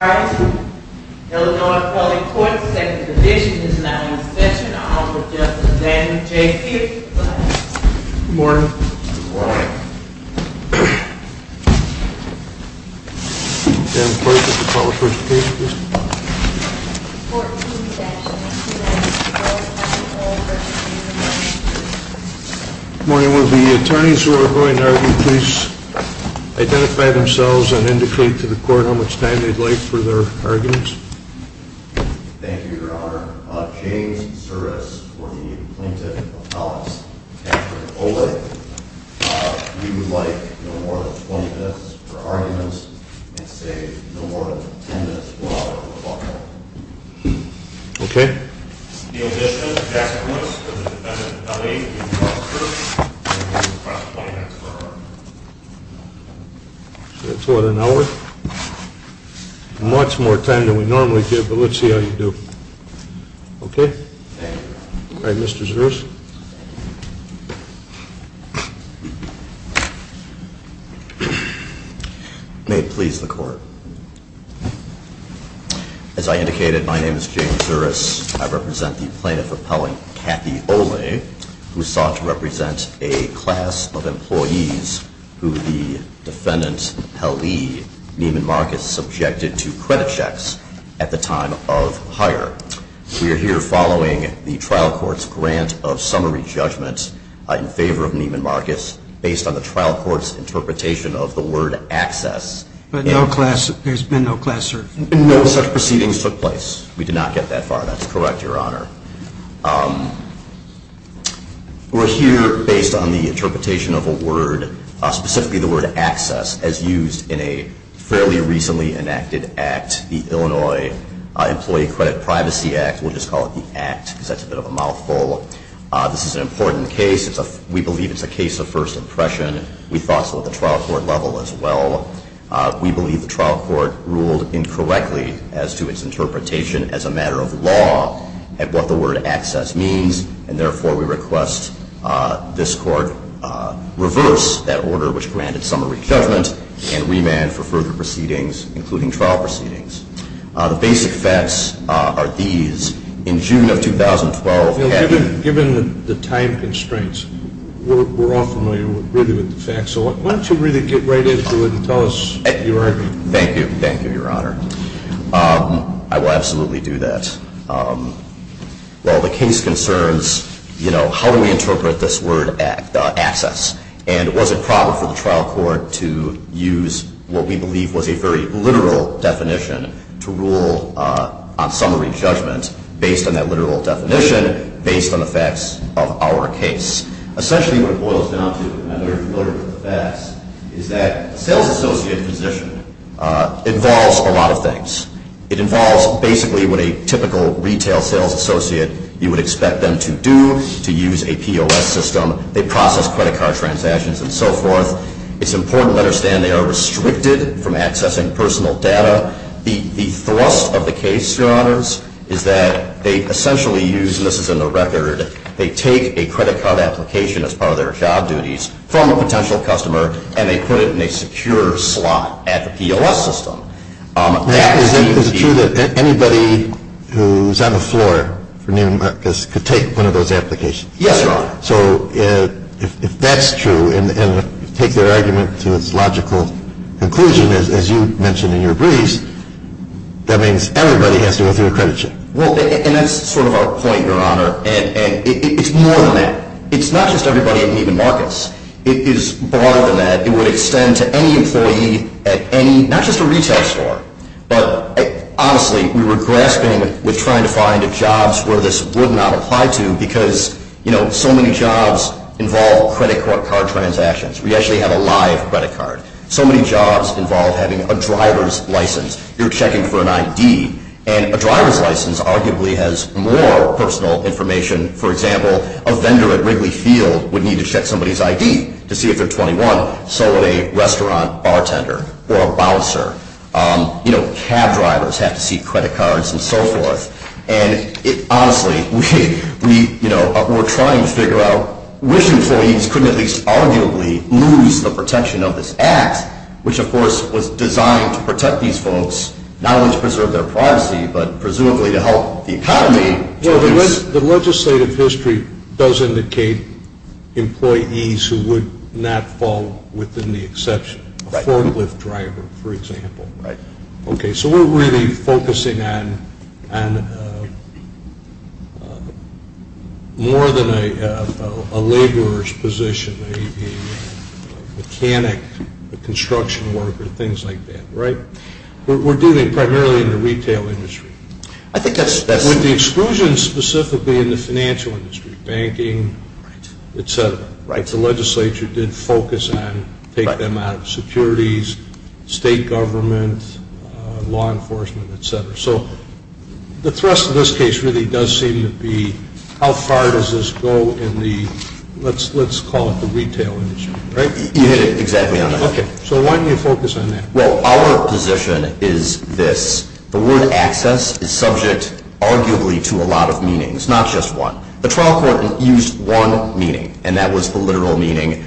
All rise. The Illinois Appellate Court's Second Division is now in session. I'll offer Justice Daniel J. Fields the floor. Good morning. Madam Clerk, would you call the first case, please? Good morning. Will the attorneys who are going to argue please identify themselves and indicate to the court how much time they'd like for their arguments? Thank you, Your Honor. James Suris for the Plaintiff Appellate's case for Oleh. We would like no more than 20 minutes for arguments and say no more than 10 minutes for our rebuttal. Okay. In addition, Jackson Lewis for the Defendant Appellee's case for Kirk. We would request 20 minutes for our argument. So that's what, an hour? Much more time than we normally give, but let's see how you do. Thank you, Your Honor. All right, Mr. Suris. May it please the Court. As I indicated, my name is James Suris. I represent the Plaintiff Appellant, Kathy Oleh, who sought to represent a class of employees who the Defendant Appellee, Neiman Marcus, subjected to credit checks at the time of hire. We are here following the trial court's grant of summary judgment in favor of Neiman Marcus based on the trial court's interpretation of the word access. But no class, there's been no class search? No, such proceedings took place. We did not get that far. That's correct, Your Honor. We're here based on the interpretation of a word, specifically the word access, as used in a fairly recently enacted act, the Illinois Employee Credit Privacy Act. We'll just call it the act because that's a bit of a mouthful. This is an important case. We believe it's a case of first impression. We thought so at the trial court level as well. We believe the trial court ruled incorrectly as to its interpretation as a matter of law at what the word access means, and therefore we request this Court reverse that order which granted summary judgment and remand for further proceedings, including trial proceedings. The basic facts are these. In June of 2012, Kathy Oleh Why don't you really get right into it and tell us your argument. Thank you. Thank you, Your Honor. I will absolutely do that. Well, the case concerns how we interpret this word access, and was it proper for the trial court to use what we believe was a very literal definition to rule on summary judgment based on that literal definition, based on the facts of our case? Essentially what it boils down to, and I know you're familiar with the facts, is that a sales associate position involves a lot of things. It involves basically what a typical retail sales associate, you would expect them to do, to use a POS system. They process credit card transactions and so forth. It's important to understand they are restricted from accessing personal data. The thrust of the case, Your Honors, is that they essentially use, and this is in the record, they take a credit card application as part of their job duties from a potential customer and they put it in a secure slot at the POS system. Is it true that anybody who's on the floor for Neiman Marcus could take one of those applications? Yes, Your Honor. So if that's true and take their argument to its logical conclusion, as you mentioned in your brief, that means everybody has to go through a credit check. Well, and that's sort of our point, Your Honor, and it's more than that. It's not just everybody at Neiman Marcus. It is broader than that. It would extend to any employee at any, not just a retail store, but honestly we were grasping with trying to find jobs where this would not apply to because, you know, so many jobs involve credit card transactions. We actually have a live credit card. So many jobs involve having a driver's license. You're checking for an ID, and a driver's license arguably has more personal information. For example, a vendor at Wrigley Field would need to check somebody's ID to see if they're 21. So would a restaurant bartender or a bouncer. You know, cab drivers have to see credit cards and so forth. And honestly, we're trying to figure out which employees could at least arguably lose the protection of this act, which of course was designed to protect these folks, not only to preserve their privacy, but presumably to help the economy. The legislative history does indicate employees who would not fall within the exception. A forklift driver, for example. Right. Okay. So we're really focusing on more than a laborer's position, a mechanic, a construction worker, things like that. Right? We're dealing primarily in the retail industry. I think that's... With the exclusion specifically in the financial industry, banking, et cetera. Right. The legislature did focus on taking them out of securities, state government, law enforcement, et cetera. So the thrust of this case really does seem to be how far does this go in the, let's call it the retail industry. Right? You hit it exactly on that. Okay. So why do you focus on that? Well, our position is this. The word access is subject arguably to a lot of meanings, not just one. The trial court used one meaning, and that was the literal meaning.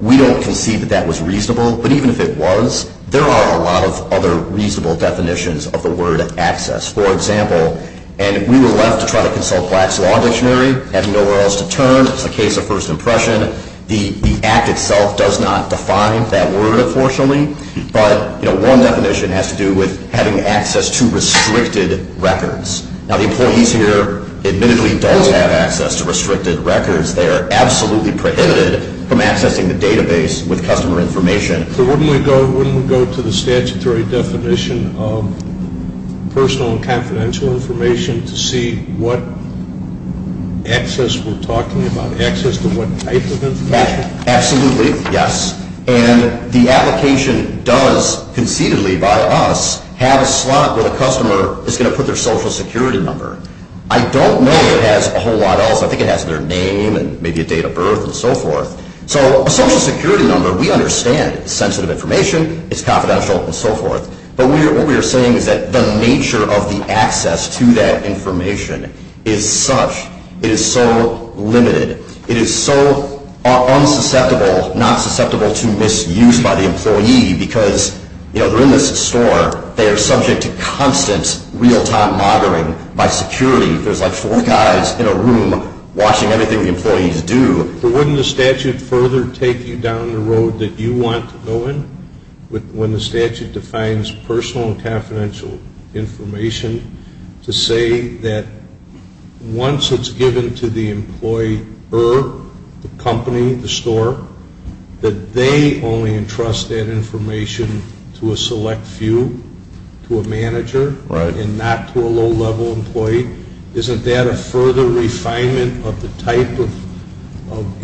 We don't concede that that was reasonable. But even if it was, there are a lot of other reasonable definitions of the word access. For example, and we were left to try to consult Black's Law Dictionary, having nowhere else to turn. It's a case of first impression. The act itself does not define that word, unfortunately. But one definition has to do with having access to restricted records. Now, the employees here admittedly don't have access to restricted records. They are absolutely prohibited from accessing the database with customer information. So wouldn't we go to the statutory definition of personal and confidential information to see what access we're talking about, access to what type of information? Absolutely, yes. And the application does concededly by us have a slot where the customer is going to put their social security number. I don't know it has a whole lot else. I think it has their name and maybe a date of birth and so forth. So a social security number, we understand it's sensitive information. It's confidential and so forth. But what we are saying is that the nature of the access to that information is such it is so limited. It is so unsusceptible, not susceptible to misuse by the employee because, you know, they're in this store. They are subject to constant real-time monitoring by security. There's like four guys in a room watching everything the employees do. But wouldn't the statute further take you down the road that you want to go in when the statute defines personal and confidential information to say that once it's given to the employer, the company, the store, that they only entrust that information to a select few, to a manager and not to a low-level employee? Isn't that a further refinement of the type of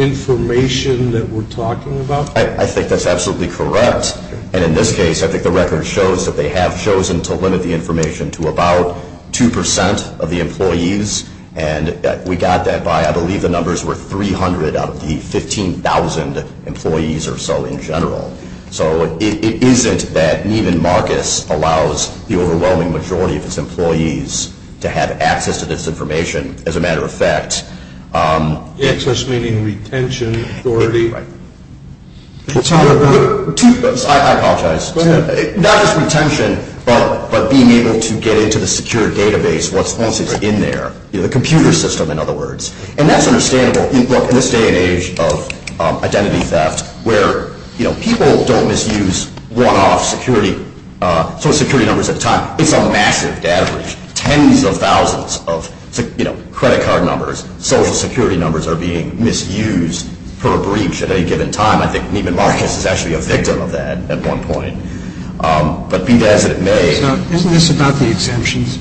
information that we're talking about? I think that's absolutely correct. And in this case, I think the record shows that they have chosen to limit the information to about 2% of the employees. And we got that by I believe the numbers were 300 out of the 15,000 employees or so in general. So it isn't that Neiman Marcus allows the overwhelming majority of its employees to have access to this information. Access meaning retention, authority. I apologize. Not just retention, but being able to get into the secure database once it's in there. The computer system, in other words. And that's understandable in this day and age of identity theft where people don't misuse one-off security numbers at a time. It's a massive data breach. Tens of thousands of credit card numbers, social security numbers are being misused for a breach at any given time. I think Neiman Marcus is actually a victim of that at one point. But be that as it may. So isn't this about the exemptions?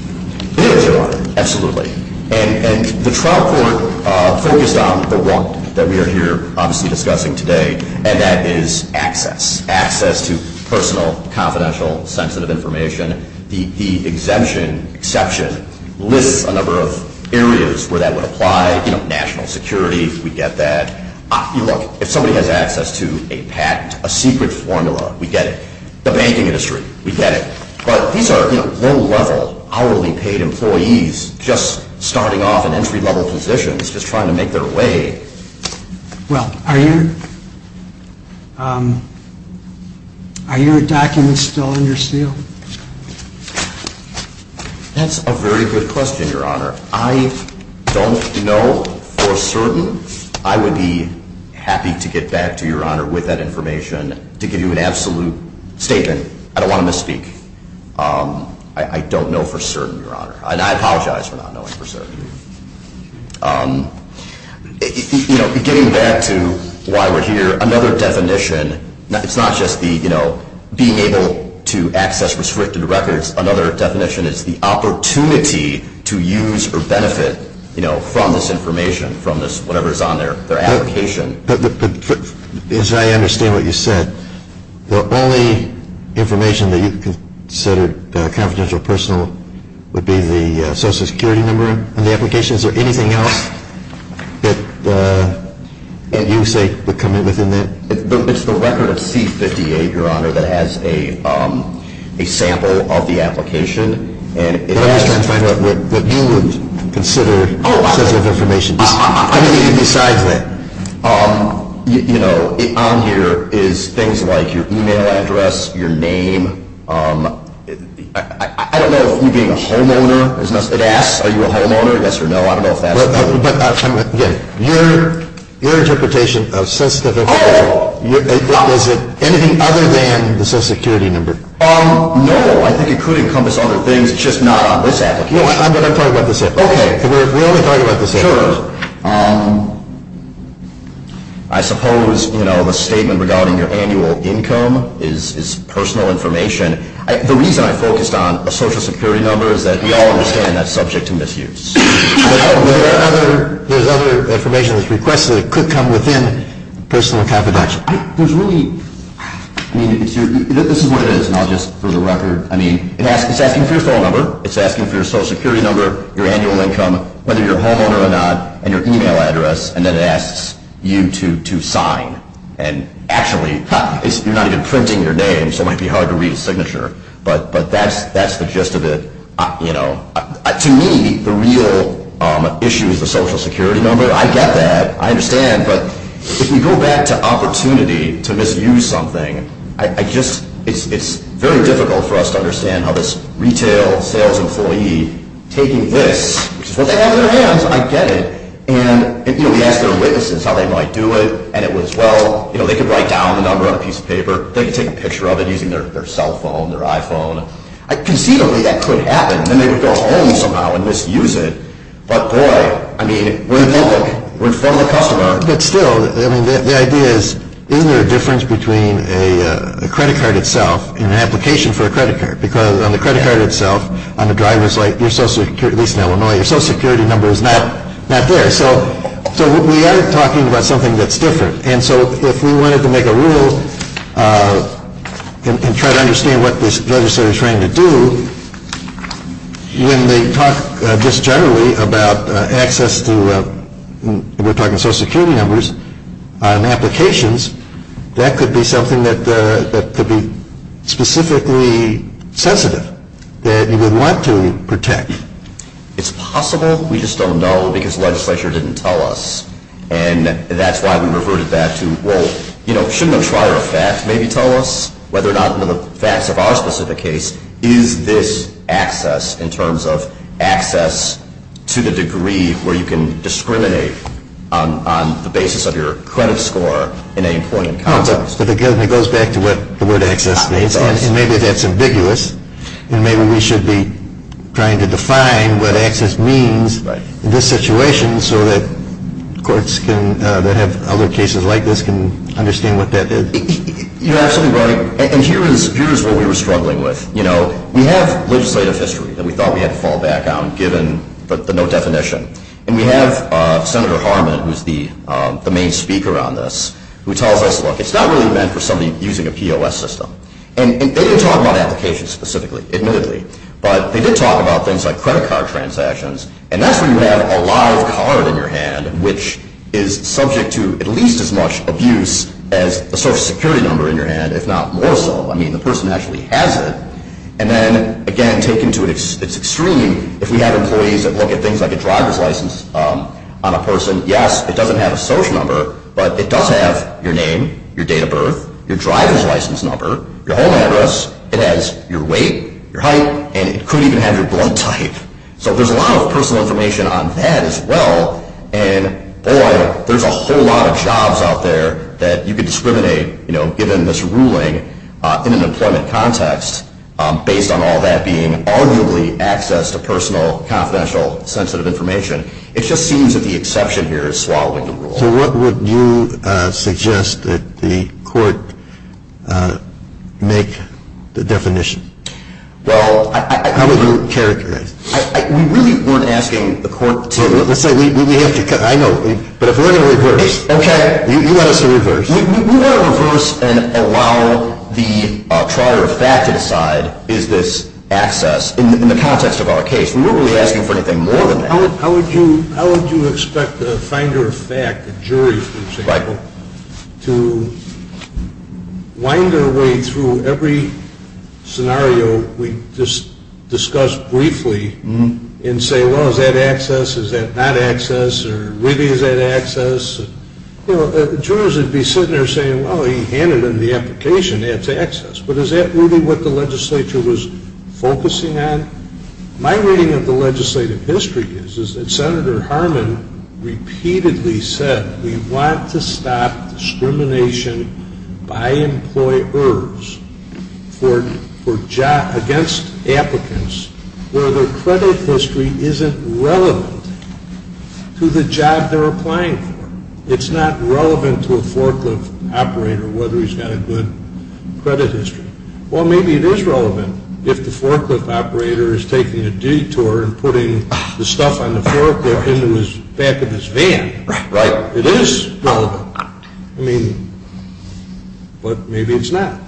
It is, Your Honor. Absolutely. And the trial court focused on the one that we are here obviously discussing today, and that is access. Access to personal, confidential, sensitive information. The exemption, exception, lists a number of areas where that would apply. You know, national security, we get that. Look, if somebody has access to a patent, a secret formula, we get it. The banking industry, we get it. But these are low-level, hourly paid employees just starting off in entry-level positions just trying to make their way. Well, are your documents still in your seal? That's a very good question, Your Honor. I don't know for certain. I would be happy to get back to Your Honor with that information to give you an absolute statement. I don't want to misspeak. I don't know for certain, Your Honor. And I apologize for not knowing for certain. You know, getting back to why we're here, another definition, it's not just the, you know, being able to access restricted records. Another definition is the opportunity to use or benefit, you know, from this information, from this whatever is on their application. As I understand what you said, the only information that you considered confidential or personal would be the social security number on the application. Is there anything else that you would say would come in within that? It's the record of C-58, Your Honor, that has a sample of the application. I'm just trying to find out what you would consider sensitive information. Anything besides that. You know, on here is things like your e-mail address, your name. I don't know if you being a homeowner is necessary. It asks, are you a homeowner, yes or no. I don't know if that's. Your interpretation of sensitive information, is it anything other than the social security number? No, I think it could encompass other things. It's just not on this application. No, I'm talking about this application. Okay. We're only talking about this application. Sure. I suppose, you know, the statement regarding your annual income is personal information. The reason I focused on a social security number is that we all understand that's subject to misuse. There's other information that's requested that could come within personal confidential. There's really, I mean, this is what it is. And I'll just, for the record, I mean, it's asking for your phone number. It's asking for your social security number, your annual income, whether you're a homeowner or not, and your e-mail address, and then it asks you to sign. And actually, you're not even printing your name, so it might be hard to read a signature. But that's the gist of it, you know. To me, the real issue is the social security number. I get that. I understand. But if you go back to opportunity to misuse something, I just, it's very difficult for us to understand how this retail sales employee taking this, which is what they have in their hands, I get it. And, you know, we asked their witnesses how they might do it, and it was, well, you know, they could write down the number on a piece of paper. They could take a picture of it using their cell phone, their iPhone. Conceivably, that could happen. Then they would go home somehow and misuse it. But, boy, I mean, we're public. We're a formal customer. But still, I mean, the idea is, isn't there a difference between a credit card itself and an application for a credit card? Because on the credit card itself, on the driver's license, your social security, at least in Illinois, your social security number is not there. So we are talking about something that's different. And so if we wanted to make a rule and try to understand what this legislator is trying to do, when they talk just generally about access to, we're talking social security numbers on applications, that could be something that could be specifically sensitive that you would want to protect. It's possible. We just don't know because the legislature didn't tell us. And that's why we reverted that to, well, you know, shouldn't a trier of facts maybe tell us whether or not, under the facts of our specific case, is this access in terms of access to the degree where you can discriminate on the basis of your credit score in any point in context? It goes back to what the word access means. And maybe that's ambiguous. And maybe we should be trying to define what access means in this situation so that courts that have other cases like this can understand what that is. You're absolutely right. And here is what we were struggling with. You know, we have legislative history that we thought we had to fall back on given the no definition. And we have Senator Harmon, who is the main speaker on this, who tells us, look, it's not really meant for somebody using a POS system. And they didn't talk about applications specifically, admittedly. But they did talk about things like credit card transactions. And that's where you have a live card in your hand, which is subject to at least as much abuse as a social security number in your hand, if not more so. I mean, the person actually has it. And then, again, taken to its extreme, if we have employees that look at things like a driver's license on a person, yes, it doesn't have a social number, but it does have your name, your date of birth, your driver's license number, your home address. It has your weight, your height, and it could even have your blood type. So there's a lot of personal information on that as well. And, boy, there's a whole lot of jobs out there that you could discriminate, you know, given this ruling in an employment context based on all that being arguably access to personal, confidential, sensitive information. It just seems that the exception here is swallowing the rule. So what would you suggest that the court make the definition? Well, how would you characterize it? We really weren't asking the court to. Let's say we have to. I know. But if we're going to reverse. Okay. You want us to reverse. We want to reverse and allow the trier of fact to decide is this access in the context of our case. We weren't really asking for anything more than that. How would you expect a finder of fact, a jury, for example, to wind their way through every scenario we discussed briefly and say, well, is that access, is that not access, or really is that access? You know, jurors would be sitting there saying, well, he handed in the application, that's access. But is that really what the legislature was focusing on? My reading of the legislative history is that Senator Harmon repeatedly said we want to stop discrimination by employers against applicants where their credit history isn't relevant to the job they're applying for. It's not relevant to a forklift operator, whether he's got a good credit history. Well, maybe it is relevant if the forklift operator is taking a detour and putting the stuff on the forklift into the back of his van, right? It is relevant. I mean, but maybe it's not.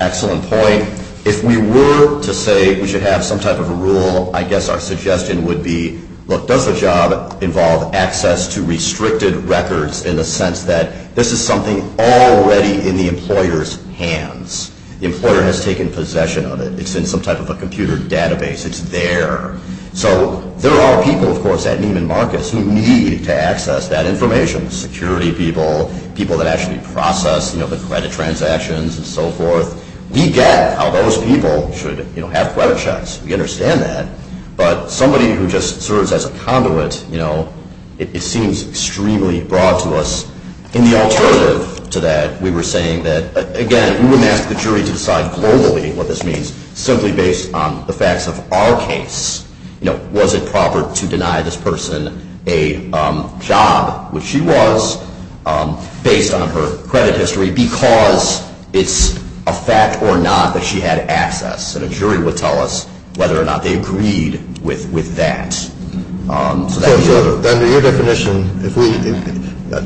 Excellent point. If we were to say we should have some type of a rule, I guess our suggestion would be, look, does the job involve access to restricted records in the sense that this is something already in the employer's hands? The employer has taken possession of it. It's in some type of a computer database. It's there. So there are people, of course, at Neiman Marcus who need to access that information, security people, people that actually process, you know, the credit transactions and so forth. We get how those people should, you know, have credit checks. We understand that. But somebody who just serves as a conduit, you know, it seems extremely broad to us. And the alternative to that, we were saying that, again, we wouldn't ask the jury to decide globally what this means simply based on the facts of our case. You know, was it proper to deny this person a job, which she was, based on her credit history, because it's a fact or not that she had access? And a jury would tell us whether or not they agreed with that. So under your definition,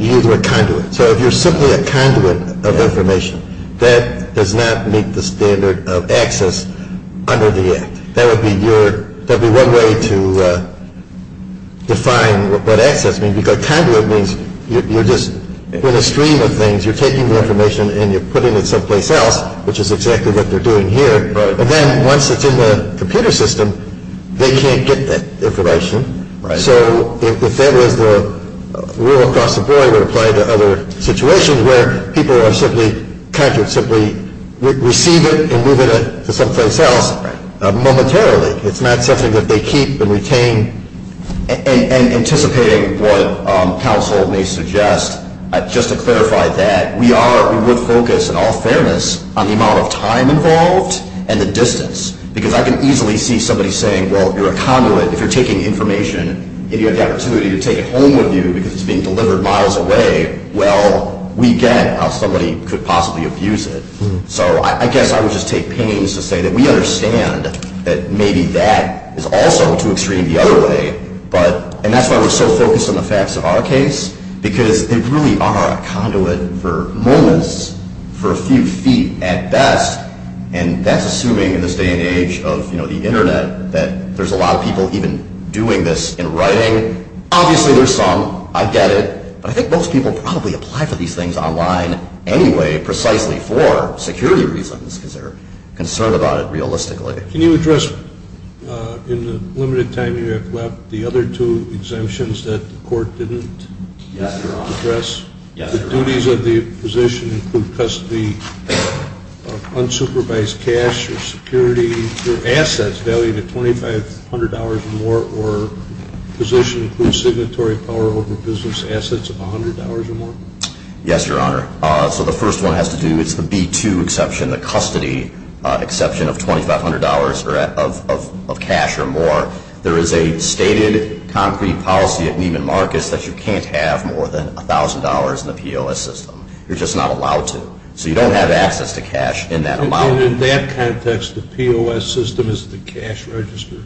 you use the word conduit. So if you're simply a conduit of information, that does not meet the standard of access under the Act. That would be one way to define what access means, because conduit means you're just in a stream of things. You're taking the information and you're putting it someplace else, which is exactly what they're doing here. And then once it's in the computer system, they can't get that information. So if that was the rule across the board, it would apply to other situations where people are simply conduits, simply receive it and move it to someplace else momentarily. It's not something that they keep and retain. And anticipating what counsel may suggest, just to clarify that, we are, we would focus, in all fairness, on the amount of time involved and the distance, because I can easily see somebody saying, well, you're a conduit. If you're taking information and you have the opportunity to take it home with you because it's being delivered miles away, well, we get how somebody could possibly abuse it. So I guess I would just take pains to say that we understand that maybe that is also too extreme the other way. And that's why we're so focused on the facts of our case, because they really are a conduit for moments, for a few feet at best. And that's assuming in this day and age of the Internet that there's a lot of people even doing this in writing. Obviously, there's some. I get it. But I think most people probably apply for these things online anyway, precisely for security reasons, because they're concerned about it realistically. Can you address in the limited time you have left the other two exemptions that the court didn't address? Yes, Your Honor. The duties of the position include custody of unsupervised cash or security or assets valued at $2,500 or more, or the position includes signatory power over business assets of $100 or more? Yes, Your Honor. So the first one has to do with the B-2 exception, the custody exception of $2,500 of cash or more. There is a stated concrete policy at Neiman Marcus that you can't have more than $1,000 in the POS system. You're just not allowed to. So you don't have access to cash in that amount. In that context, the POS system is the cash register?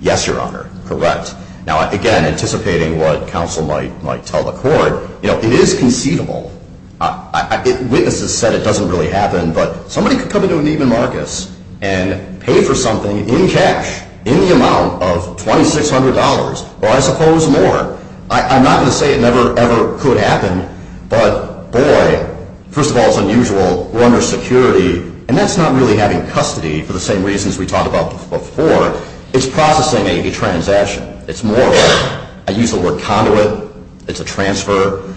Yes, Your Honor. Correct. Now, again, anticipating what counsel might tell the court, you know, it is conceivable. Witnesses said it doesn't really happen, but somebody could come into Neiman Marcus and pay for something in cash in the amount of $2,600 or, I suppose, more. I'm not going to say it never, ever could happen, but, boy, first of all, it's unusual. We're under security, and that's not really having custody for the same reasons we talked about before. It's processing a transaction. It's more than that. I use the word conduit. It's a transfer.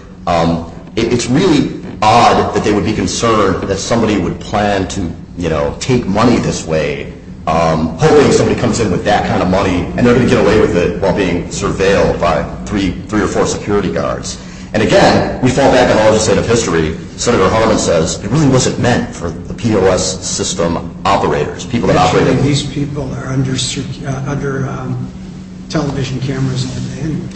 It's really odd that they would be concerned that somebody would plan to, you know, take money this way. Hopefully somebody comes in with that kind of money, and they're going to get away with it while being surveilled by three or four security guards. And, again, we fall back on all of the state of history. Senator Harmon says it really wasn't meant for the POS system operators, people that operate it. These people are under television cameras. And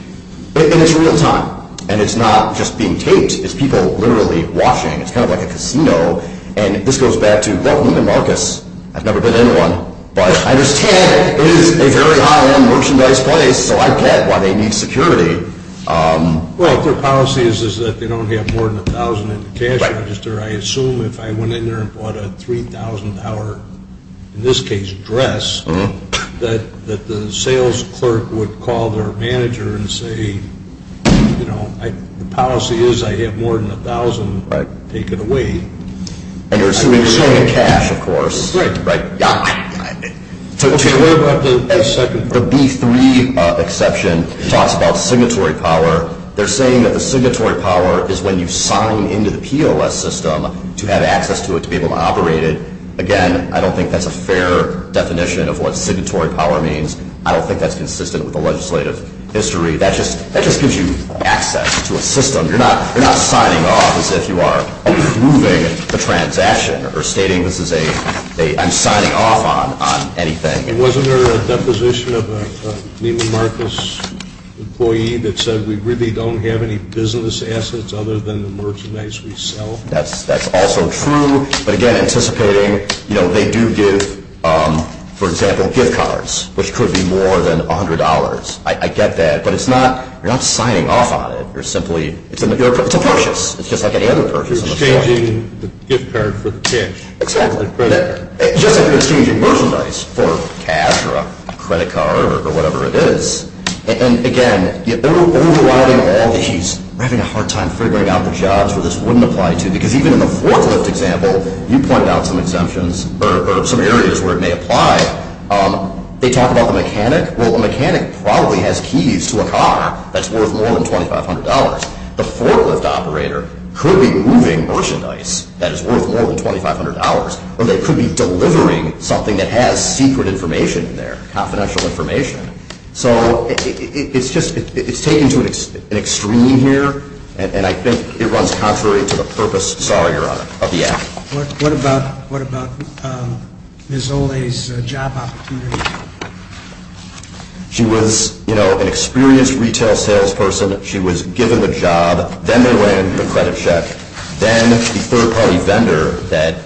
it's real time, and it's not just being taped. It's people literally watching. It's kind of like a casino, and this goes back to welcome to Neiman Marcus. I've never been in one, but I understand it is a very high-end merchandise place, so I get why they need security. Well, if their policy is that they don't have more than $1,000 in the cash register, I assume if I went in there and bought a $3,000, in this case, dress, that the sales clerk would call their manager and say, you know, the policy is I have more than $1,000 taken away. And you're assuming it's in the cash, of course. Right. Right. The B3 exception talks about signatory power. They're saying that the signatory power is when you sign into the POS system to have access to it to be able to operate it. Again, I don't think that's a fair definition of what signatory power means. I don't think that's consistent with the legislative history. That just gives you access to a system. You're not signing off as if you are approving a transaction or stating this is a ‑‑ I'm signing off on anything. Wasn't there a deposition of a Neiman Marcus employee that said we really don't have any business assets other than the merchandise we sell? That's also true. But, again, anticipating, you know, they do give, for example, gift cards, which could be more than $100. I get that. But it's not ‑‑ you're not signing off on it. You're simply ‑‑ it's a purchase. It's just like any other purchase. You're exchanging the gift card for the cash. Exactly. It's just like you're exchanging merchandise for cash or a credit card or whatever it is. And, again, they're overriding all these. We're having a hard time figuring out the jobs where this wouldn't apply to. Because even in the forklift example, you pointed out some exemptions or some areas where it may apply. They talk about the mechanic. Well, a mechanic probably has keys to a car that's worth more than $2,500. The forklift operator could be moving merchandise that is worth more than $2,500 or they could be delivering something that has secret information in there, confidential information. So it's just ‑‑ it's taken to an extreme here. And I think it runs contrary to the purpose, sorry, Your Honor, of the act. What about Ms. Olay's job opportunity? She was, you know, an experienced retail salesperson. She was given the job. Then they ran the credit check. Then the third-party vendor that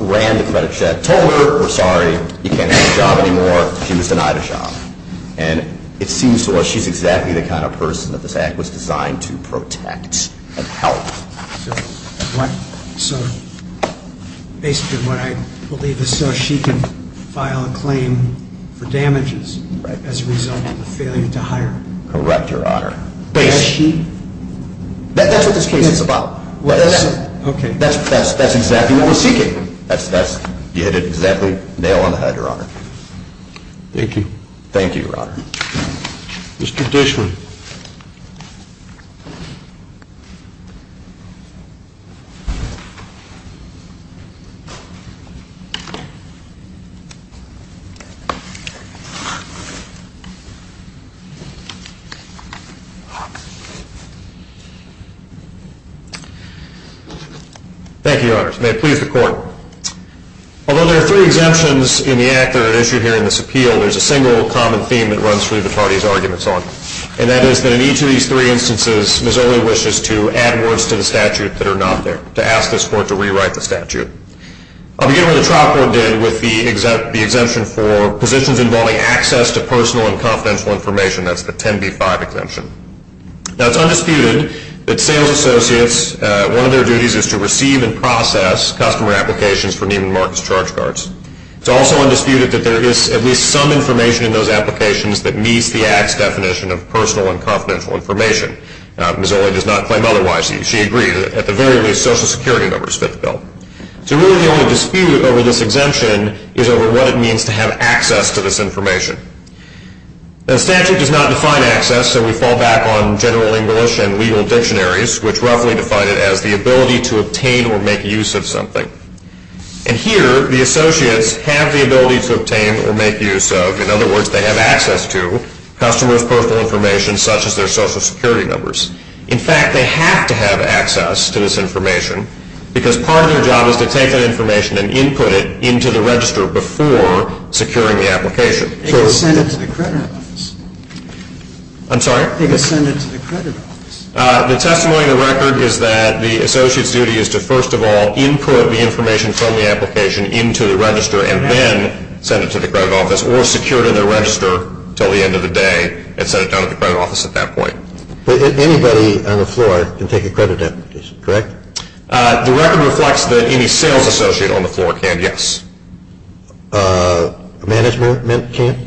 ran the credit check told her, we're sorry, you can't get the job anymore. She was denied a job. And it seems to us she's exactly the kind of person that this act was designed to protect and help. So basically what I believe is so she can file a claim for damages as a result of a failure to hire. Correct, Your Honor. Is she? That's what this case is about. Okay. That's exactly what we're seeking. You hit it exactly nail on the head, Your Honor. Thank you. Thank you, Your Honor. Mr. Dishman. Thank you, Your Honors. May it please the Court. Although there are three exemptions in the act that are issued here in this appeal, there's a single common theme that runs through the parties' arguments on it. And that is that in each of these three instances, Ms. Olay wishes to add words to the statute that are not there, to ask this Court to rewrite the statute. I'll begin what the trial court did with the exemption for positions involving access to personal and confidential information. That's the 10b-5 exemption. Now, it's undisputed that sales associates, one of their duties is to receive and process customer applications for Neiman Marcus charge cards. It's also undisputed that there is at least some information in those applications that meets the act's definition of personal and confidential information. Ms. Olay does not claim otherwise. She agreed that at the very least Social Security numbers fit the bill. So really the only dispute over this exemption is over what it means to have access to this information. The statute does not define access, so we fall back on general English and legal dictionaries, which roughly define it as the ability to obtain or make use of something. And here, the associates have the ability to obtain or make use of, in other words, they have access to customers' personal information, such as their Social Security numbers. In fact, they have to have access to this information, because part of their job is to take that information and input it into the register before securing the application. They can send it to the credit office. I'm sorry? They can send it to the credit office. The testimony in the record is that the associate's duty is to, first of all, input the information from the application into the register and then send it to the credit office or secure it in the register until the end of the day and send it down to the credit office at that point. Anybody on the floor can take a credit application, correct? The record reflects that any sales associate on the floor can, yes. Management can't?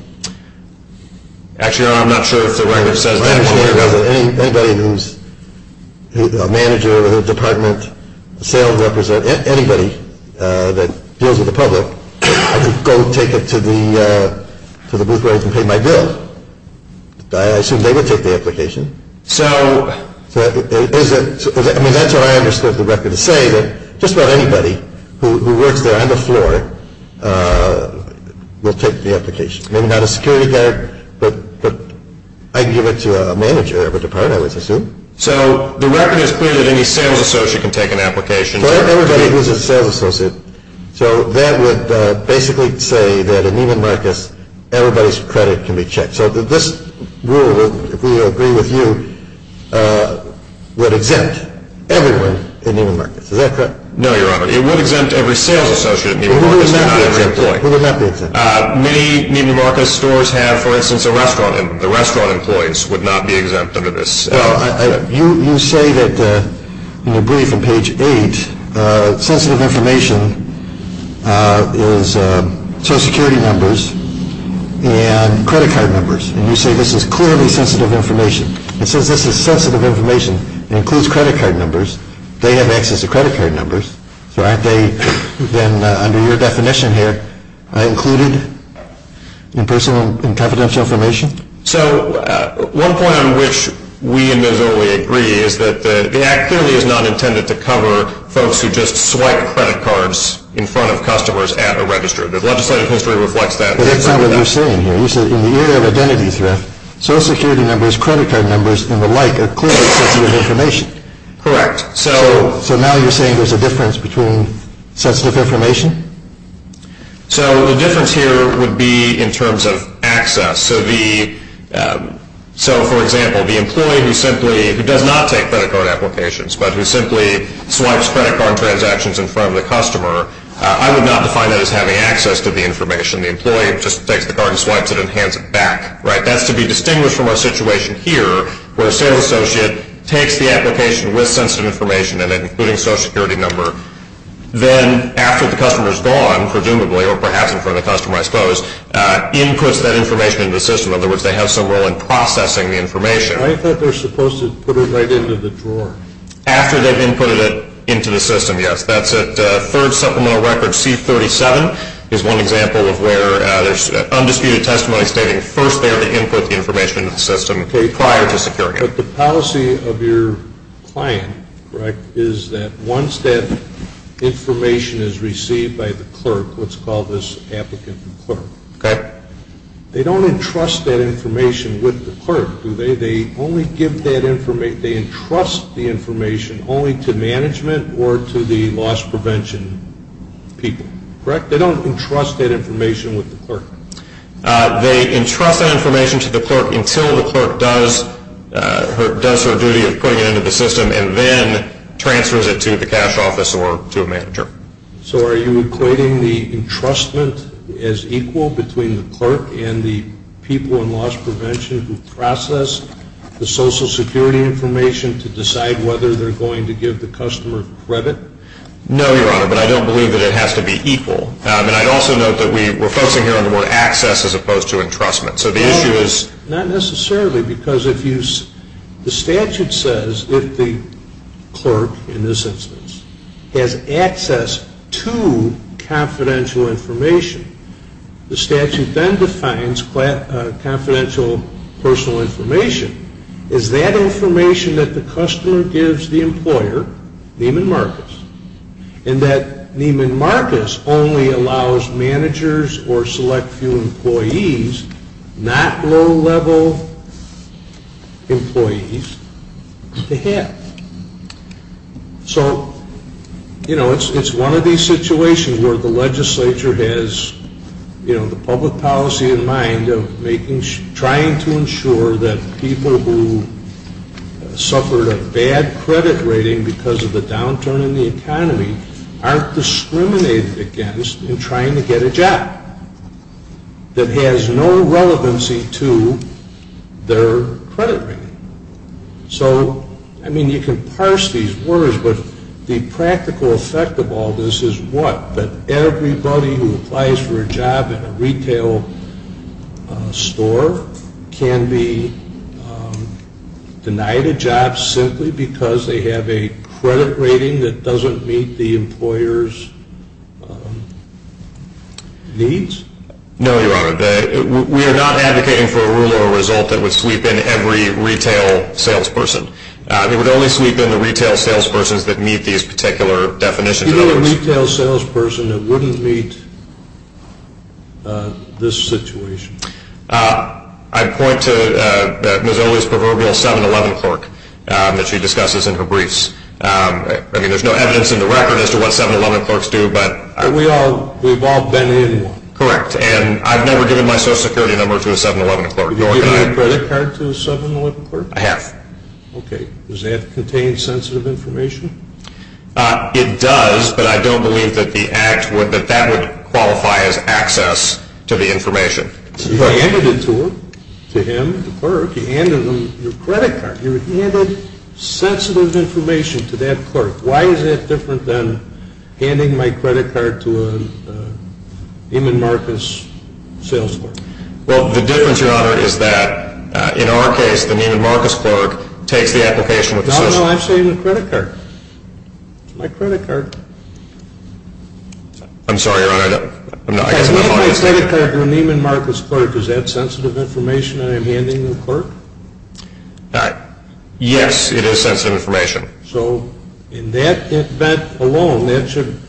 Actually, I'm not sure if the record says that. Anybody who's a manager of a department, a sales representative, anybody that deals with the public, can go take it to the booth where I can pay my bill. I assume they would take the application. I mean, that's what I understood the record to say, that just about anybody who works there on the floor will take the application. Maybe not a security guard, but I can give it to a manager of a department, I would assume. So the record is clear that any sales associate can take an application. Everybody who's a sales associate. So that would basically say that in Neiman Marcus, everybody's credit can be checked. So this rule, if we agree with you, would exempt everyone in Neiman Marcus, is that correct? No, Your Honor. It would exempt every sales associate in Neiman Marcus, but not every employee. Who would not be exempted? Many Neiman Marcus stores have, for instance, a restaurant. The restaurant employees would not be exempt under this. You say that in your brief on page 8, sensitive information is Social Security numbers and credit card numbers. And you say this is clearly sensitive information. It says this is sensitive information. It includes credit card numbers. They have access to credit card numbers. So aren't they, then, under your definition here, included in personal and confidential information? So one point on which we in Missouli agree is that the Act clearly is not intended to cover folks who just swipe credit cards in front of customers at a register. The legislative history reflects that. But that's not what you're saying here. You said in the area of identity theft, Social Security numbers, credit card numbers, and the like are clearly sensitive information. Correct. So now you're saying there's a difference between sensitive information? So the difference here would be in terms of access. So, for example, the employee who does not take credit card applications but who simply swipes credit card transactions in front of the customer, I would not define that as having access to the information. The employee just takes the card and swipes it and hands it back. That's to be distinguished from our situation here where a sales associate takes the application with sensitive information in it, including Social Security number. Then, after the customer's gone, presumably, or perhaps in front of the customer, I suppose, inputs that information into the system. In other words, they have some role in processing the information. I thought they're supposed to put it right into the drawer. After they've inputted it into the system, yes. That's at Third Supplemental Record C-37 is one example of where there's undisputed testimony stating first they are to input the information into the system prior to securing it. But the policy of your client, correct, is that once that information is received by the clerk, let's call this applicant clerk. Correct. They don't entrust that information with the clerk, do they? They only give that information, they entrust the information only to management or to the loss prevention people. Correct? They don't entrust that information with the clerk. They entrust that information to the clerk until the clerk does her duty of putting it into the system and then transfers it to the cash office or to a manager. So are you equating the entrustment as equal between the clerk and the people in loss prevention who process the Social Security information to decide whether they're going to give the customer credit? No, Your Honor, but I don't believe that it has to be equal. And I'd also note that we're focusing here on the word access as opposed to entrustment. So the issue is... Not necessarily, because the statute says if the clerk, in this instance, has access to confidential information, the statute then defines confidential personal information as that information that the customer gives the employer, Neiman Marcus, and that Neiman Marcus only allows managers or select few employees, not low-level employees, to have. So, you know, it's one of these situations where the legislature has, you know, the public policy in mind of trying to ensure that people who suffered a bad credit rating because of the downturn in the economy aren't discriminated against in trying to get a job that has no relevancy to their credit rating. So, I mean, you can parse these words, but the practical effect of all this is what? That everybody who applies for a job in a retail store can be denied a job simply because they have a credit rating that doesn't meet the employer's needs? No, Your Honor. We are not advocating for a rule or a result that would sweep in every retail salesperson. It would only sweep in the retail salespersons that meet these particular definitions. You mean a retail salesperson that wouldn't meet this situation? I'd point to Ms. Owens' proverbial 7-11 clerk that she discusses in her briefs. I mean, there's no evidence in the record as to what 7-11 clerks do, but... We've all been in one. Correct, and I've never given my Social Security number to a 7-11 clerk. Have you given your credit card to a 7-11 clerk? I have. Okay. Does that contain sensitive information? It does, but I don't believe that that would qualify as access to the information. You handed it to him, the clerk. You handed him your credit card. You handed sensitive information to that clerk. Why is that different than handing my credit card to a Neiman Marcus sales clerk? Well, the difference, Your Honor, is that in our case, the Neiman Marcus clerk takes the application with... No, no, I'm saying the credit card. It's my credit card. I'm sorry, Your Honor. I guess I'm not following you. My credit card to a Neiman Marcus clerk, is that sensitive information I am handing the clerk? All right. Yes, it is sensitive information. So in that event alone, that should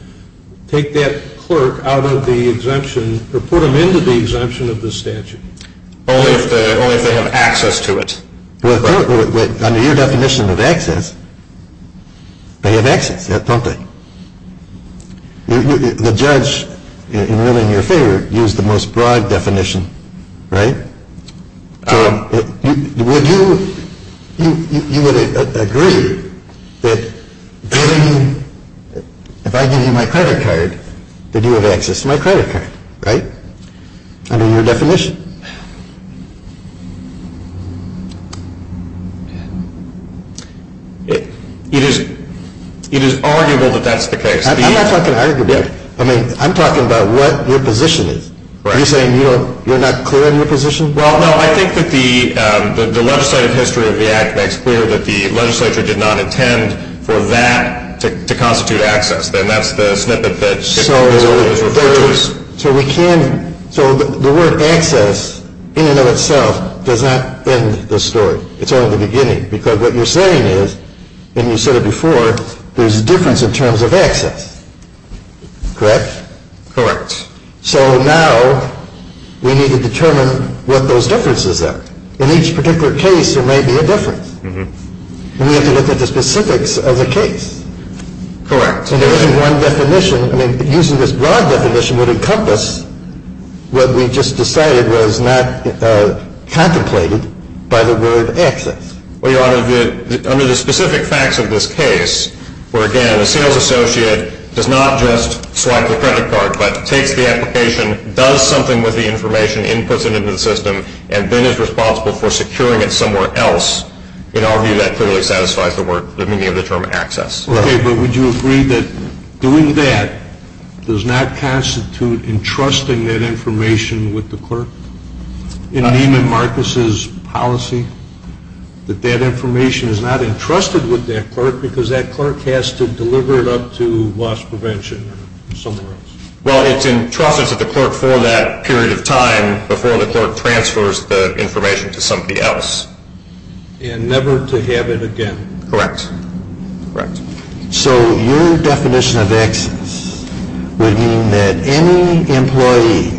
take that clerk out of the exemption or put him into the exemption of the statute? Only if they have access to it. Well, under your definition of access, they have access, don't they? The judge, in ruling your favor, used the most broad definition, right? Would you, you would agree that if I give you my credit card, that you have access to my credit card, right? Under your definition. It is arguable that that's the case. I'm not talking arguably. I mean, I'm talking about what your position is. Are you saying you're not clear on your position? Well, no, I think that the legislative history of the Act makes clear that the legislature did not intend for that to constitute access. Then that's the snippet that was referred to us. So the word access in and of itself does not end the story. It's only the beginning. Because what you're saying is, and you said it before, there's a difference in terms of access, correct? Correct. So now we need to determine what those differences are. In each particular case, there may be a difference. And we have to look at the specifics of the case. Correct. Using this broad definition would encompass what we just decided was not contemplated by the word access. Under the specific facts of this case, where, again, a sales associate does not just swipe the credit card, but takes the application, does something with the information, inputs it into the system, and then is responsible for securing it somewhere else. In our view, that clearly satisfies the meaning of the term access. Okay. But would you agree that doing that does not constitute entrusting that information with the clerk? In Neiman Marcus's policy, that that information is not entrusted with that clerk because that clerk has to deliver it up to loss prevention or somewhere else? Well, it's entrusted to the clerk for that period of time before the clerk transfers the information to somebody else. And never to have it again. Correct. So your definition of access would mean that any employee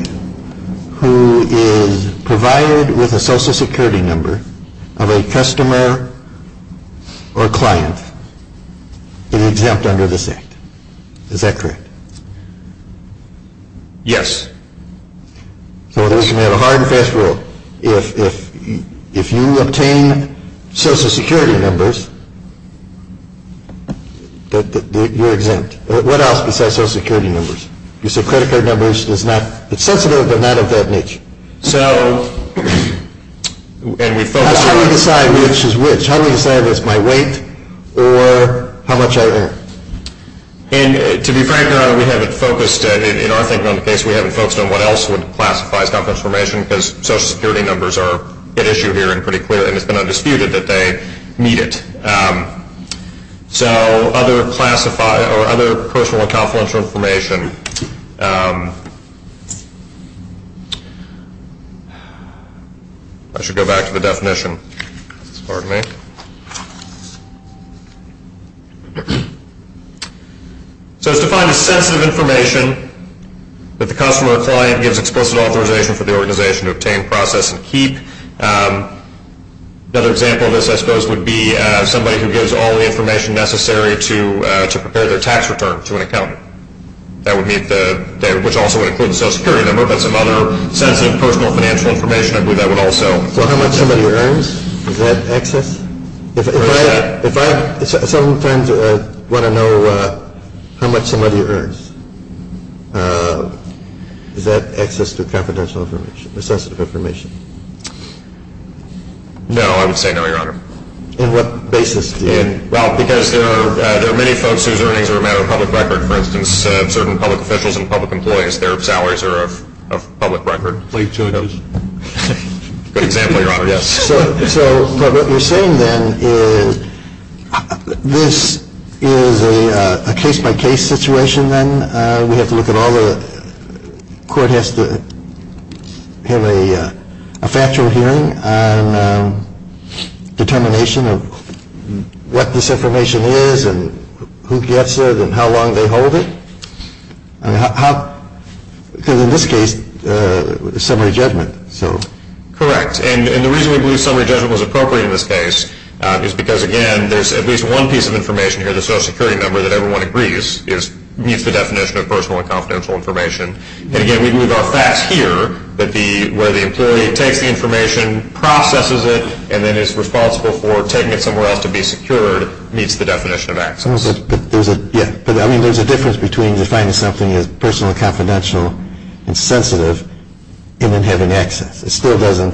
who is provided with a social security number of a customer or client is exempt under this act. Is that correct? Yes. So we have a hard and fast rule. If you obtain social security numbers, you're exempt. What else besides social security numbers? You said credit card numbers. It's sensitive, but not of that niche. How do we decide which is which? How do we decide if it's my weight or how much I earn? And to be frank here, we haven't focused, in our thinking on the case, we haven't focused on what else would classify as confidential information because social security numbers are at issue here and pretty clear. And it's been undisputed that they meet it. So other personal and confidential information. I should go back to the definition. Pardon me. So it's defined as sensitive information that the customer or client gives explicit authorization for the organization to obtain, process, and keep. Another example of this, I suppose, would be somebody who gives all the information necessary to prepare their tax return to an accountant, which also would include the social security number, but some other sensitive personal financial information. I believe that would also. So how much somebody earns? Is that access? If I sometimes want to know how much somebody earns, is that access to confidential information, sensitive information? No, I would say no, Your Honor. On what basis do you? Well, because there are many folks whose earnings are a matter of public record. For instance, certain public officials and public employees, their salaries are of public record. Good example, Your Honor. But what you're saying, then, is this is a case-by-case situation, then? We have to look at all the court has to have a factual hearing on determination of what this information is and who gets it and how long they hold it? Because in this case, it's summary judgment. Correct. And the reason we believe summary judgment was appropriate in this case is because, again, there's at least one piece of information here, the social security number, that everyone agrees meets the definition of personal and confidential information. And, again, we believe our facts here, where the employee takes the information, processes it, and then is responsible for taking it somewhere else to be secured, meets the definition of access. But there's a difference between defining something as personal and confidential and sensitive and then having access. It still doesn't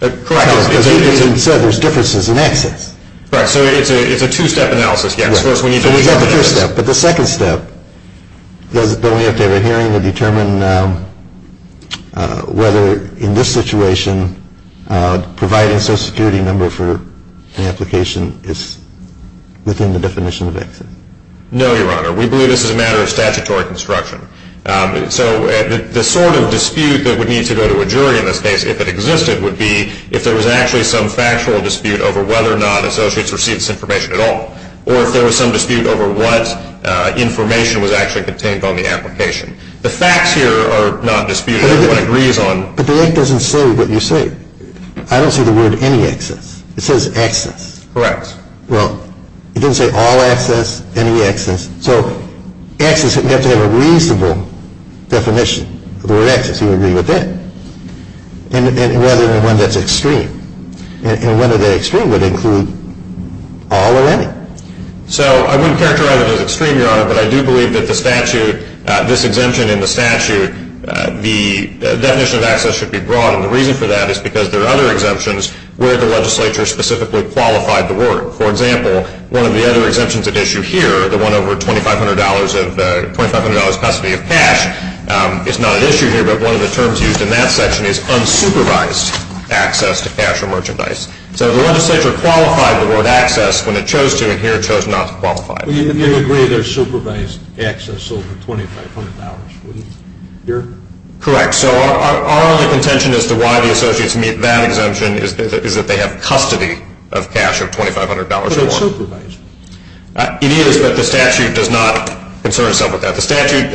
tell us. Correct. As you said, there's differences in access. Right. So it's a two-step analysis. Yes. Of course, we need to look at that. But the second step is that we have to have a hearing to determine whether, in this situation, providing a social security number for an application is within the definition of access. No, Your Honor. We believe this is a matter of statutory construction. So the sort of dispute that would need to go to a jury in this case, if it existed, would be if there was actually some factual dispute over whether or not associates received this information at all or if there was some dispute over what information was actually contained on the application. The facts here are not disputed. Everyone agrees on. But the ink doesn't say what you say. I don't see the word any access. It says access. Correct. Well, it doesn't say all access, any access. So access, we have to have a reasonable definition of the word access. Do you agree with that? And whether or not that's extreme. And whether that extreme would include all or any. So I wouldn't characterize it as extreme, Your Honor, but I do believe that the statute, this exemption in the statute, the definition of access should be broad. And the reason for that is because there are other exemptions where the legislature specifically qualified to work. For example, one of the other exemptions at issue here, the one over $2,500 custody of cash is not at issue here, but one of the terms used in that section is unsupervised access to cash or merchandise. So the legislature qualified the word access when it chose to, and here it chose not to qualify. You would agree there's supervised access over $2,500, wouldn't you, Your Honor? Correct. So our only contention as to why the associates meet that exemption is that they have custody of cash of $2,500 or more. But it's supervised. It is, but the statute does not concern itself with that. The statute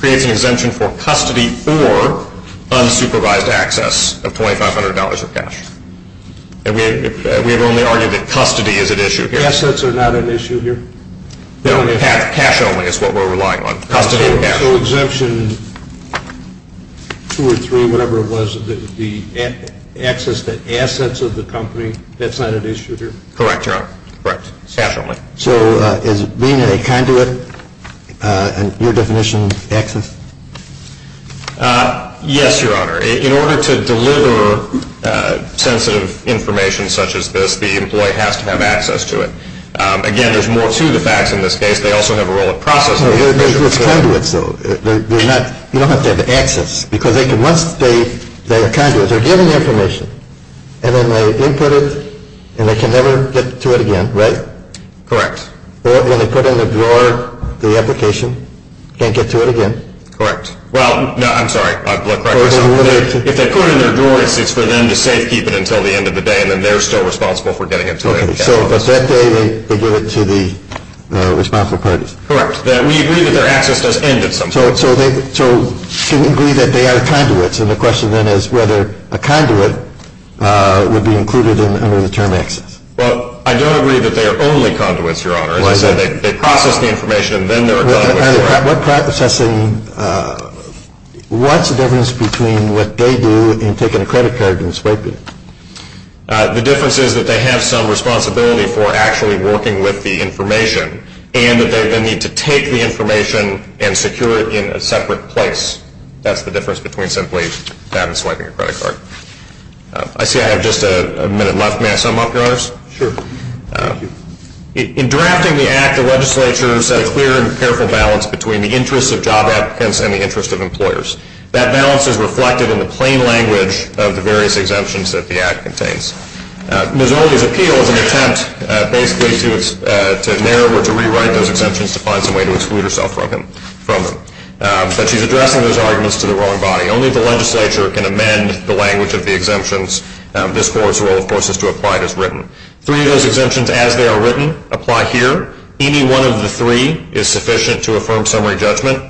creates an exemption for custody or unsupervised access of $2,500 of cash. And we have only argued that custody is at issue here. Assets are not at issue here? No, cash only is what we're relying on, custody of cash. So exemption two or three, whatever it was, the access to assets of the company, that's not at issue here? Correct, Your Honor. Correct. Cash only. So is being a conduit in your definition access? Yes, Your Honor. In order to deliver sensitive information such as this, the employee has to have access to it. Again, there's more to the facts in this case. They also have a role of processing. No, they're just conduits, though. You don't have to have access. Because once they are conduits, they're given the information, and then they input it, and they can never get to it again, right? Correct. Or when they put in their drawer the application, can't get to it again. Correct. Well, no, I'm sorry. If they put it in their drawer, it's for them to safekeep it until the end of the day, and then they're still responsible for getting it. So at that day, they give it to the responsible parties? Correct. We agree that their access does end at some point. So can we agree that they are conduits? And the question then is whether a conduit would be included under the term access. Well, I don't agree that they are only conduits, Your Honor. As I said, they process the information, and then they're a conduit for it. What's the difference between what they do and taking a credit card and swiping it? The difference is that they have some responsibility for actually working with the information and that they then need to take the information and secure it in a separate place. That's the difference between simply that and swiping a credit card. I see I have just a minute left. May I sum up, Your Honors? Sure. Thank you. In drafting the Act, the legislature set a clear and careful balance between the interests of job applicants and the interests of employers. That balance is reflected in the plain language of the various exemptions that the Act contains. Ms. Orley's appeal is an attempt basically to narrow or to rewrite those exemptions to find some way to exclude herself from them. But she's addressing those arguments to the wrong body. Only the legislature can amend the language of the exemptions. This Court's role, of course, is to apply it as written. Three of those exemptions, as they are written, apply here. Any one of the three is sufficient to affirm summary judgment.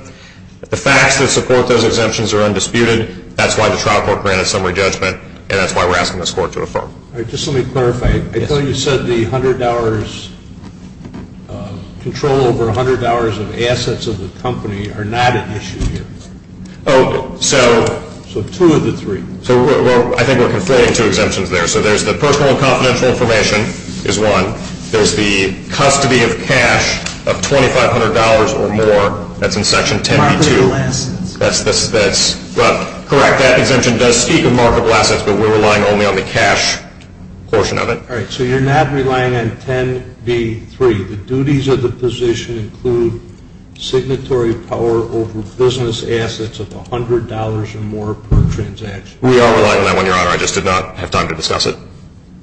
The facts that support those exemptions are undisputed. That's why the trial court granted summary judgment, and that's why we're asking this Court to affirm. All right. Just let me clarify. I thought you said the $100 control over $100 of assets of the company are not at issue here. Oh, so. So two of the three. So I think we're conflating two exemptions there. So there's the personal and confidential information is one. There's the custody of cash of $2,500 or more. That's in Section 10b-2. Marketable assets. That's correct. That exemption does speak of marketable assets, but we're relying only on the cash portion of it. All right. So you're not relying on 10b-3. The duties of the position include signatory power over business assets of $100 or more per transaction. We are relying on that one, Your Honor. I just did not have time to discuss it.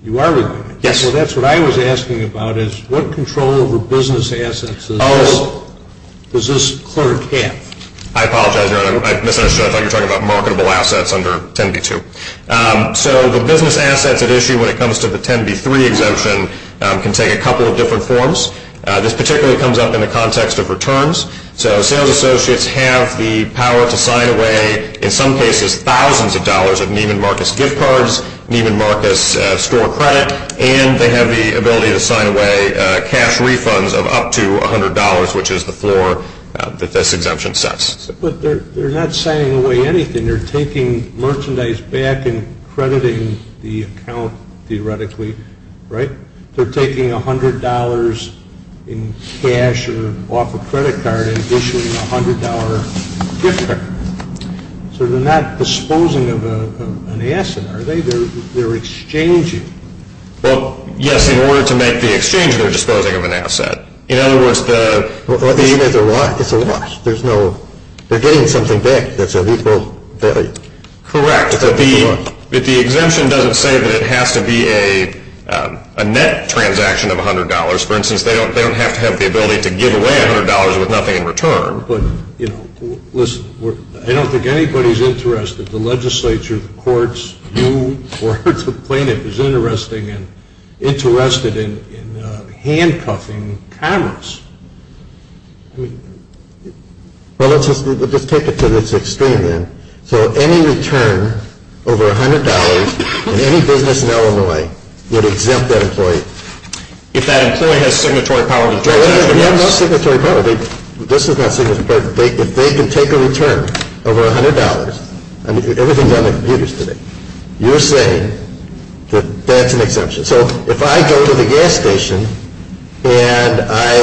You are relying on it. Yes. Well, that's what I was asking about is what control over business assets is this? Well, does this clear it in half? I apologize, Your Honor. I misunderstood. I thought you were talking about marketable assets under 10b-2. So the business assets at issue when it comes to the 10b-3 exemption can take a couple of different forms. This particularly comes up in the context of returns. So sales associates have the power to sign away, in some cases, thousands of dollars of Neiman Marcus gift cards, Neiman Marcus store credit, and they have the ability to sign away cash refunds of up to $100, which is the floor that this exemption sets. But they're not signing away anything. They're taking merchandise back and crediting the account, theoretically, right? They're taking $100 in cash or off a credit card and issuing a $100 gift card. So they're not disposing of an asset, are they? They're exchanging. Well, yes, in order to make the exchange, they're disposing of an asset. In other words, the – It's a loss. There's no – they're getting something back that's of equal value. Correct. But the exemption doesn't say that it has to be a net transaction of $100. For instance, they don't have to have the ability to give away $100 with nothing in return. But, you know, listen, I don't think anybody's interested. The legislature, the courts, you or the plaintiff is interested in handcuffing Congress. Well, let's just take it to this extreme then. So any return over $100 in any business in Illinois would exempt that employee. If that employee has signatory power to do it. No, they have no signatory power. This is not signatory power. If they can take a return over $100 – I mean, everything's on their computers today. You're saying that that's an exemption. So if I go to the gas station and I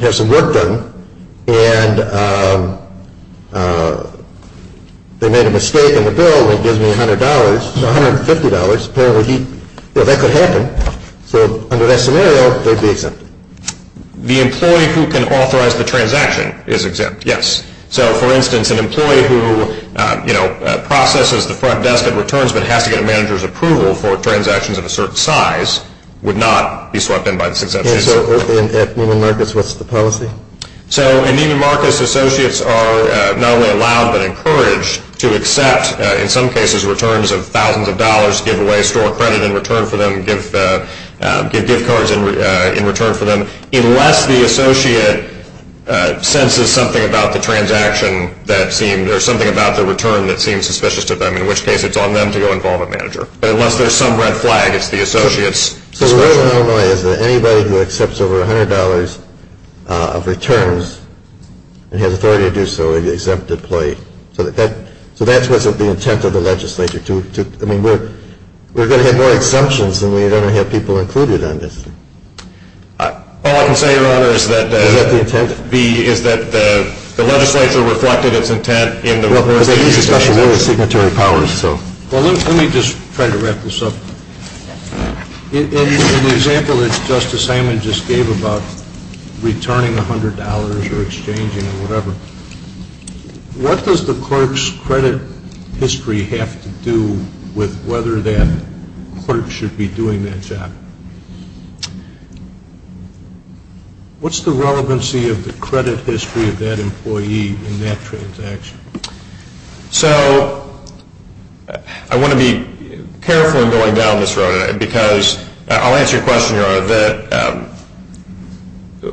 have some work done and they made a mistake in the bill that gives me $100 – $150, apparently that could happen. So under that scenario, they'd be exempted. The employee who can authorize the transaction is exempt, yes. So, for instance, an employee who processes the front desk at returns but has to get a manager's approval for transactions of a certain size would not be swept in by this exemption. And so at Neiman Marcus, what's the policy? In some cases, returns of thousands of dollars give away, store credit in return for them, give gift cards in return for them, unless the associate senses something about the transaction that seemed – or something about the return that seemed suspicious to them, in which case it's on them to go involve a manager. But unless there's some red flag, it's the associate's discretion. So where in Illinois is anybody who accepts over $100 of returns and has authority to do so exempt the employee? So that's what's at the intent of the legislature. I mean, we're going to have more exemptions than we're going to have people included on this. All I can say, Your Honor, is that – Is that the intent? – is that the legislature reflected its intent in the – Well, there is a special rule of signatory powers, so – Well, let me just try to wrap this up. In the example that Justice Simon just gave about returning $100 or exchanging or whatever, what does the clerk's credit history have to do with whether that clerk should be doing that job? What's the relevancy of the credit history of that employee in that transaction? So I want to be careful in going down this road, because I'll answer your question, Your Honor, that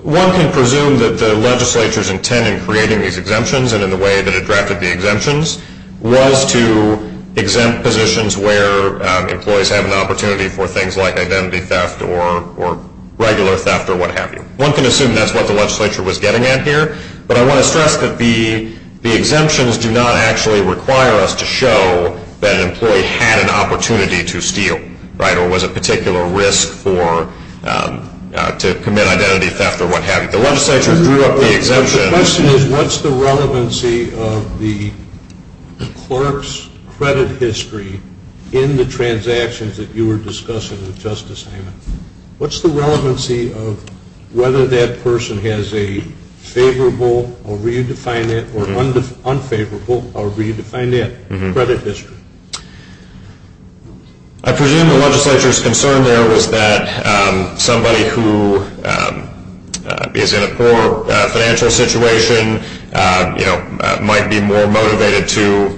one can presume that the legislature's intent in creating these exemptions and in the way that it drafted the exemptions was to exempt positions where employees have an opportunity for things like identity theft or regular theft or what have you. One can assume that's what the legislature was getting at here, but I want to stress that the exemptions do not actually require us to show that an employee had an opportunity to steal, right, or was at particular risk for – to commit identity theft or what have you. The legislature drew up the exemptions – The question is what's the relevancy of the clerk's credit history in the transactions that you were discussing with Justice Simon? What's the relevancy of whether that person has a favorable – I'll redefine that – or unfavorable – I'll redefine that – credit history? I presume the legislature's concern there was that somebody who is in a poor financial situation, you know, might be more motivated to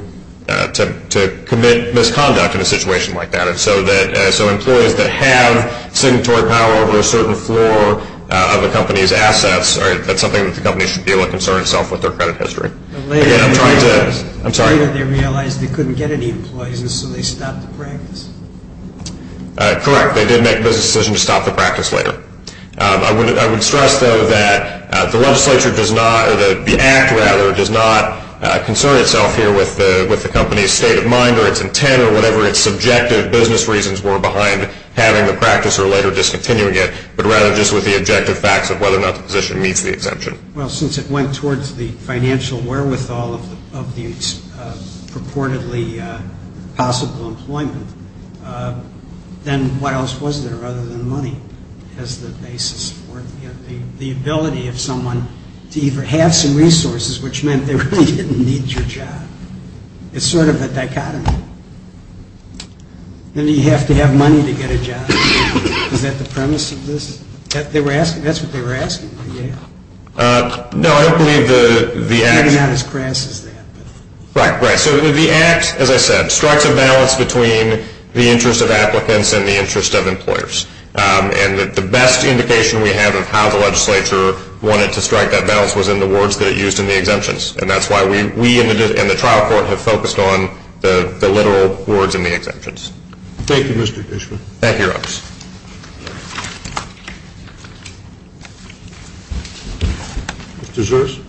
commit misconduct in a situation like that, and so that – so employees that have signatory power over a certain floor of a company's assets, that's something that the company should be able to concern itself with their credit history. Again, I'm trying to – I'm sorry. Later they realized they couldn't get any employees, and so they stopped the practice. Correct. They did make a business decision to stop the practice later. I would stress, though, that the legislature does not – or the Act, rather, does not concern itself here with the company's state of mind or its intent or whatever its subjective business reasons were behind having the practice or later discontinuing it, but rather just with the objective facts of whether or not the position meets the exemption. Well, since it went towards the financial wherewithal of the purportedly possible employment, then what else was there other than money as the basis for it? You know, the ability of someone to either have some resources, which meant they really didn't need your job. It's sort of a dichotomy. Then you have to have money to get a job. Is that the premise of this? That's what they were asking? No, I don't believe the Act – Maybe not as crass as that. Right, right. So the Act, as I said, strikes a balance between the interest of applicants and the interest of employers. And the best indication we have of how the legislature wanted to strike that balance was in the words that it used in the exemptions, and that's why we and the trial court have focused on the literal words in the exemptions. Thank you, Mr. Dishman. Thank you, Your Honors. Mr. Sears.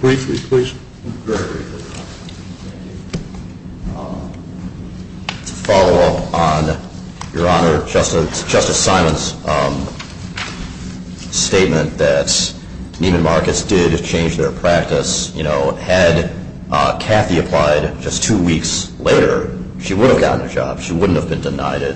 Briefly, please. Very briefly. To follow up on Your Honor, Justice Simon's statement that Neiman Marcus did change their practice, had Cathy applied just two weeks later, she would have gotten a job. She wouldn't have been denied it.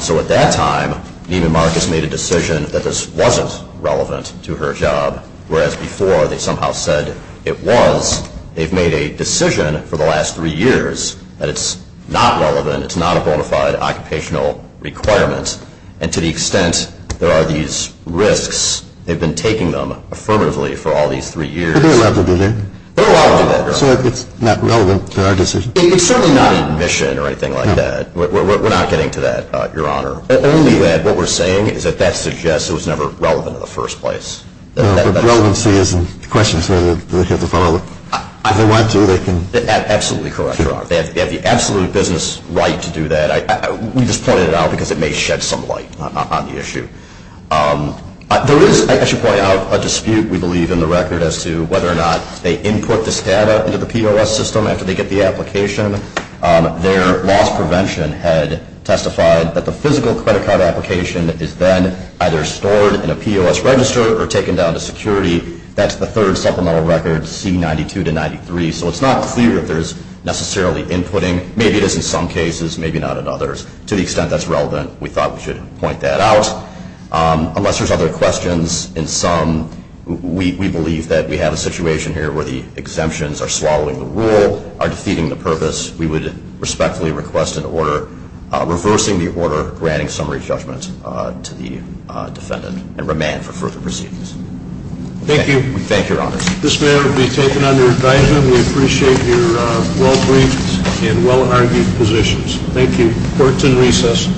So at that time, Neiman Marcus made a decision that this wasn't relevant to her job, whereas before they somehow said it was. They've made a decision for the last three years that it's not relevant, it's not a bona fide occupational requirement, and to the extent there are these risks, they've been taking them affirmatively for all these three years. They're allowed to do that. They're allowed to do that, Your Honor. So it's not relevant to our decision. It's certainly not an admission or anything like that. We're not getting to that, Your Honor. Only that what we're saying is that that suggests it was never relevant in the first place. No, but relevancy isn't the question, so they have to follow it. If they want to, they can. Absolutely correct, Your Honor. They have the absolute business right to do that. We just pointed it out because it may shed some light on the issue. There is, I should point out, a dispute, we believe, in the record as to whether or not they input this data into the POS system after they get the application. Their loss prevention had testified that the physical credit card application is then either stored in a POS register or taken down to security. That's the third supplemental record, C92-93. So it's not clear if there's necessarily inputting. Maybe it is in some cases, maybe not in others. To the extent that's relevant, we thought we should point that out. Unless there's other questions in sum, we believe that we have a situation here where the exemptions are swallowing the rule, are defeating the purpose. We would respectfully request an order reversing the order granting summary judgment to the defendant and remand for further proceedings. Thank you. Thank you, Your Honor. This matter will be taken under advisement. We appreciate your well-briefed and well-argued positions. Thank you. Court is in recess.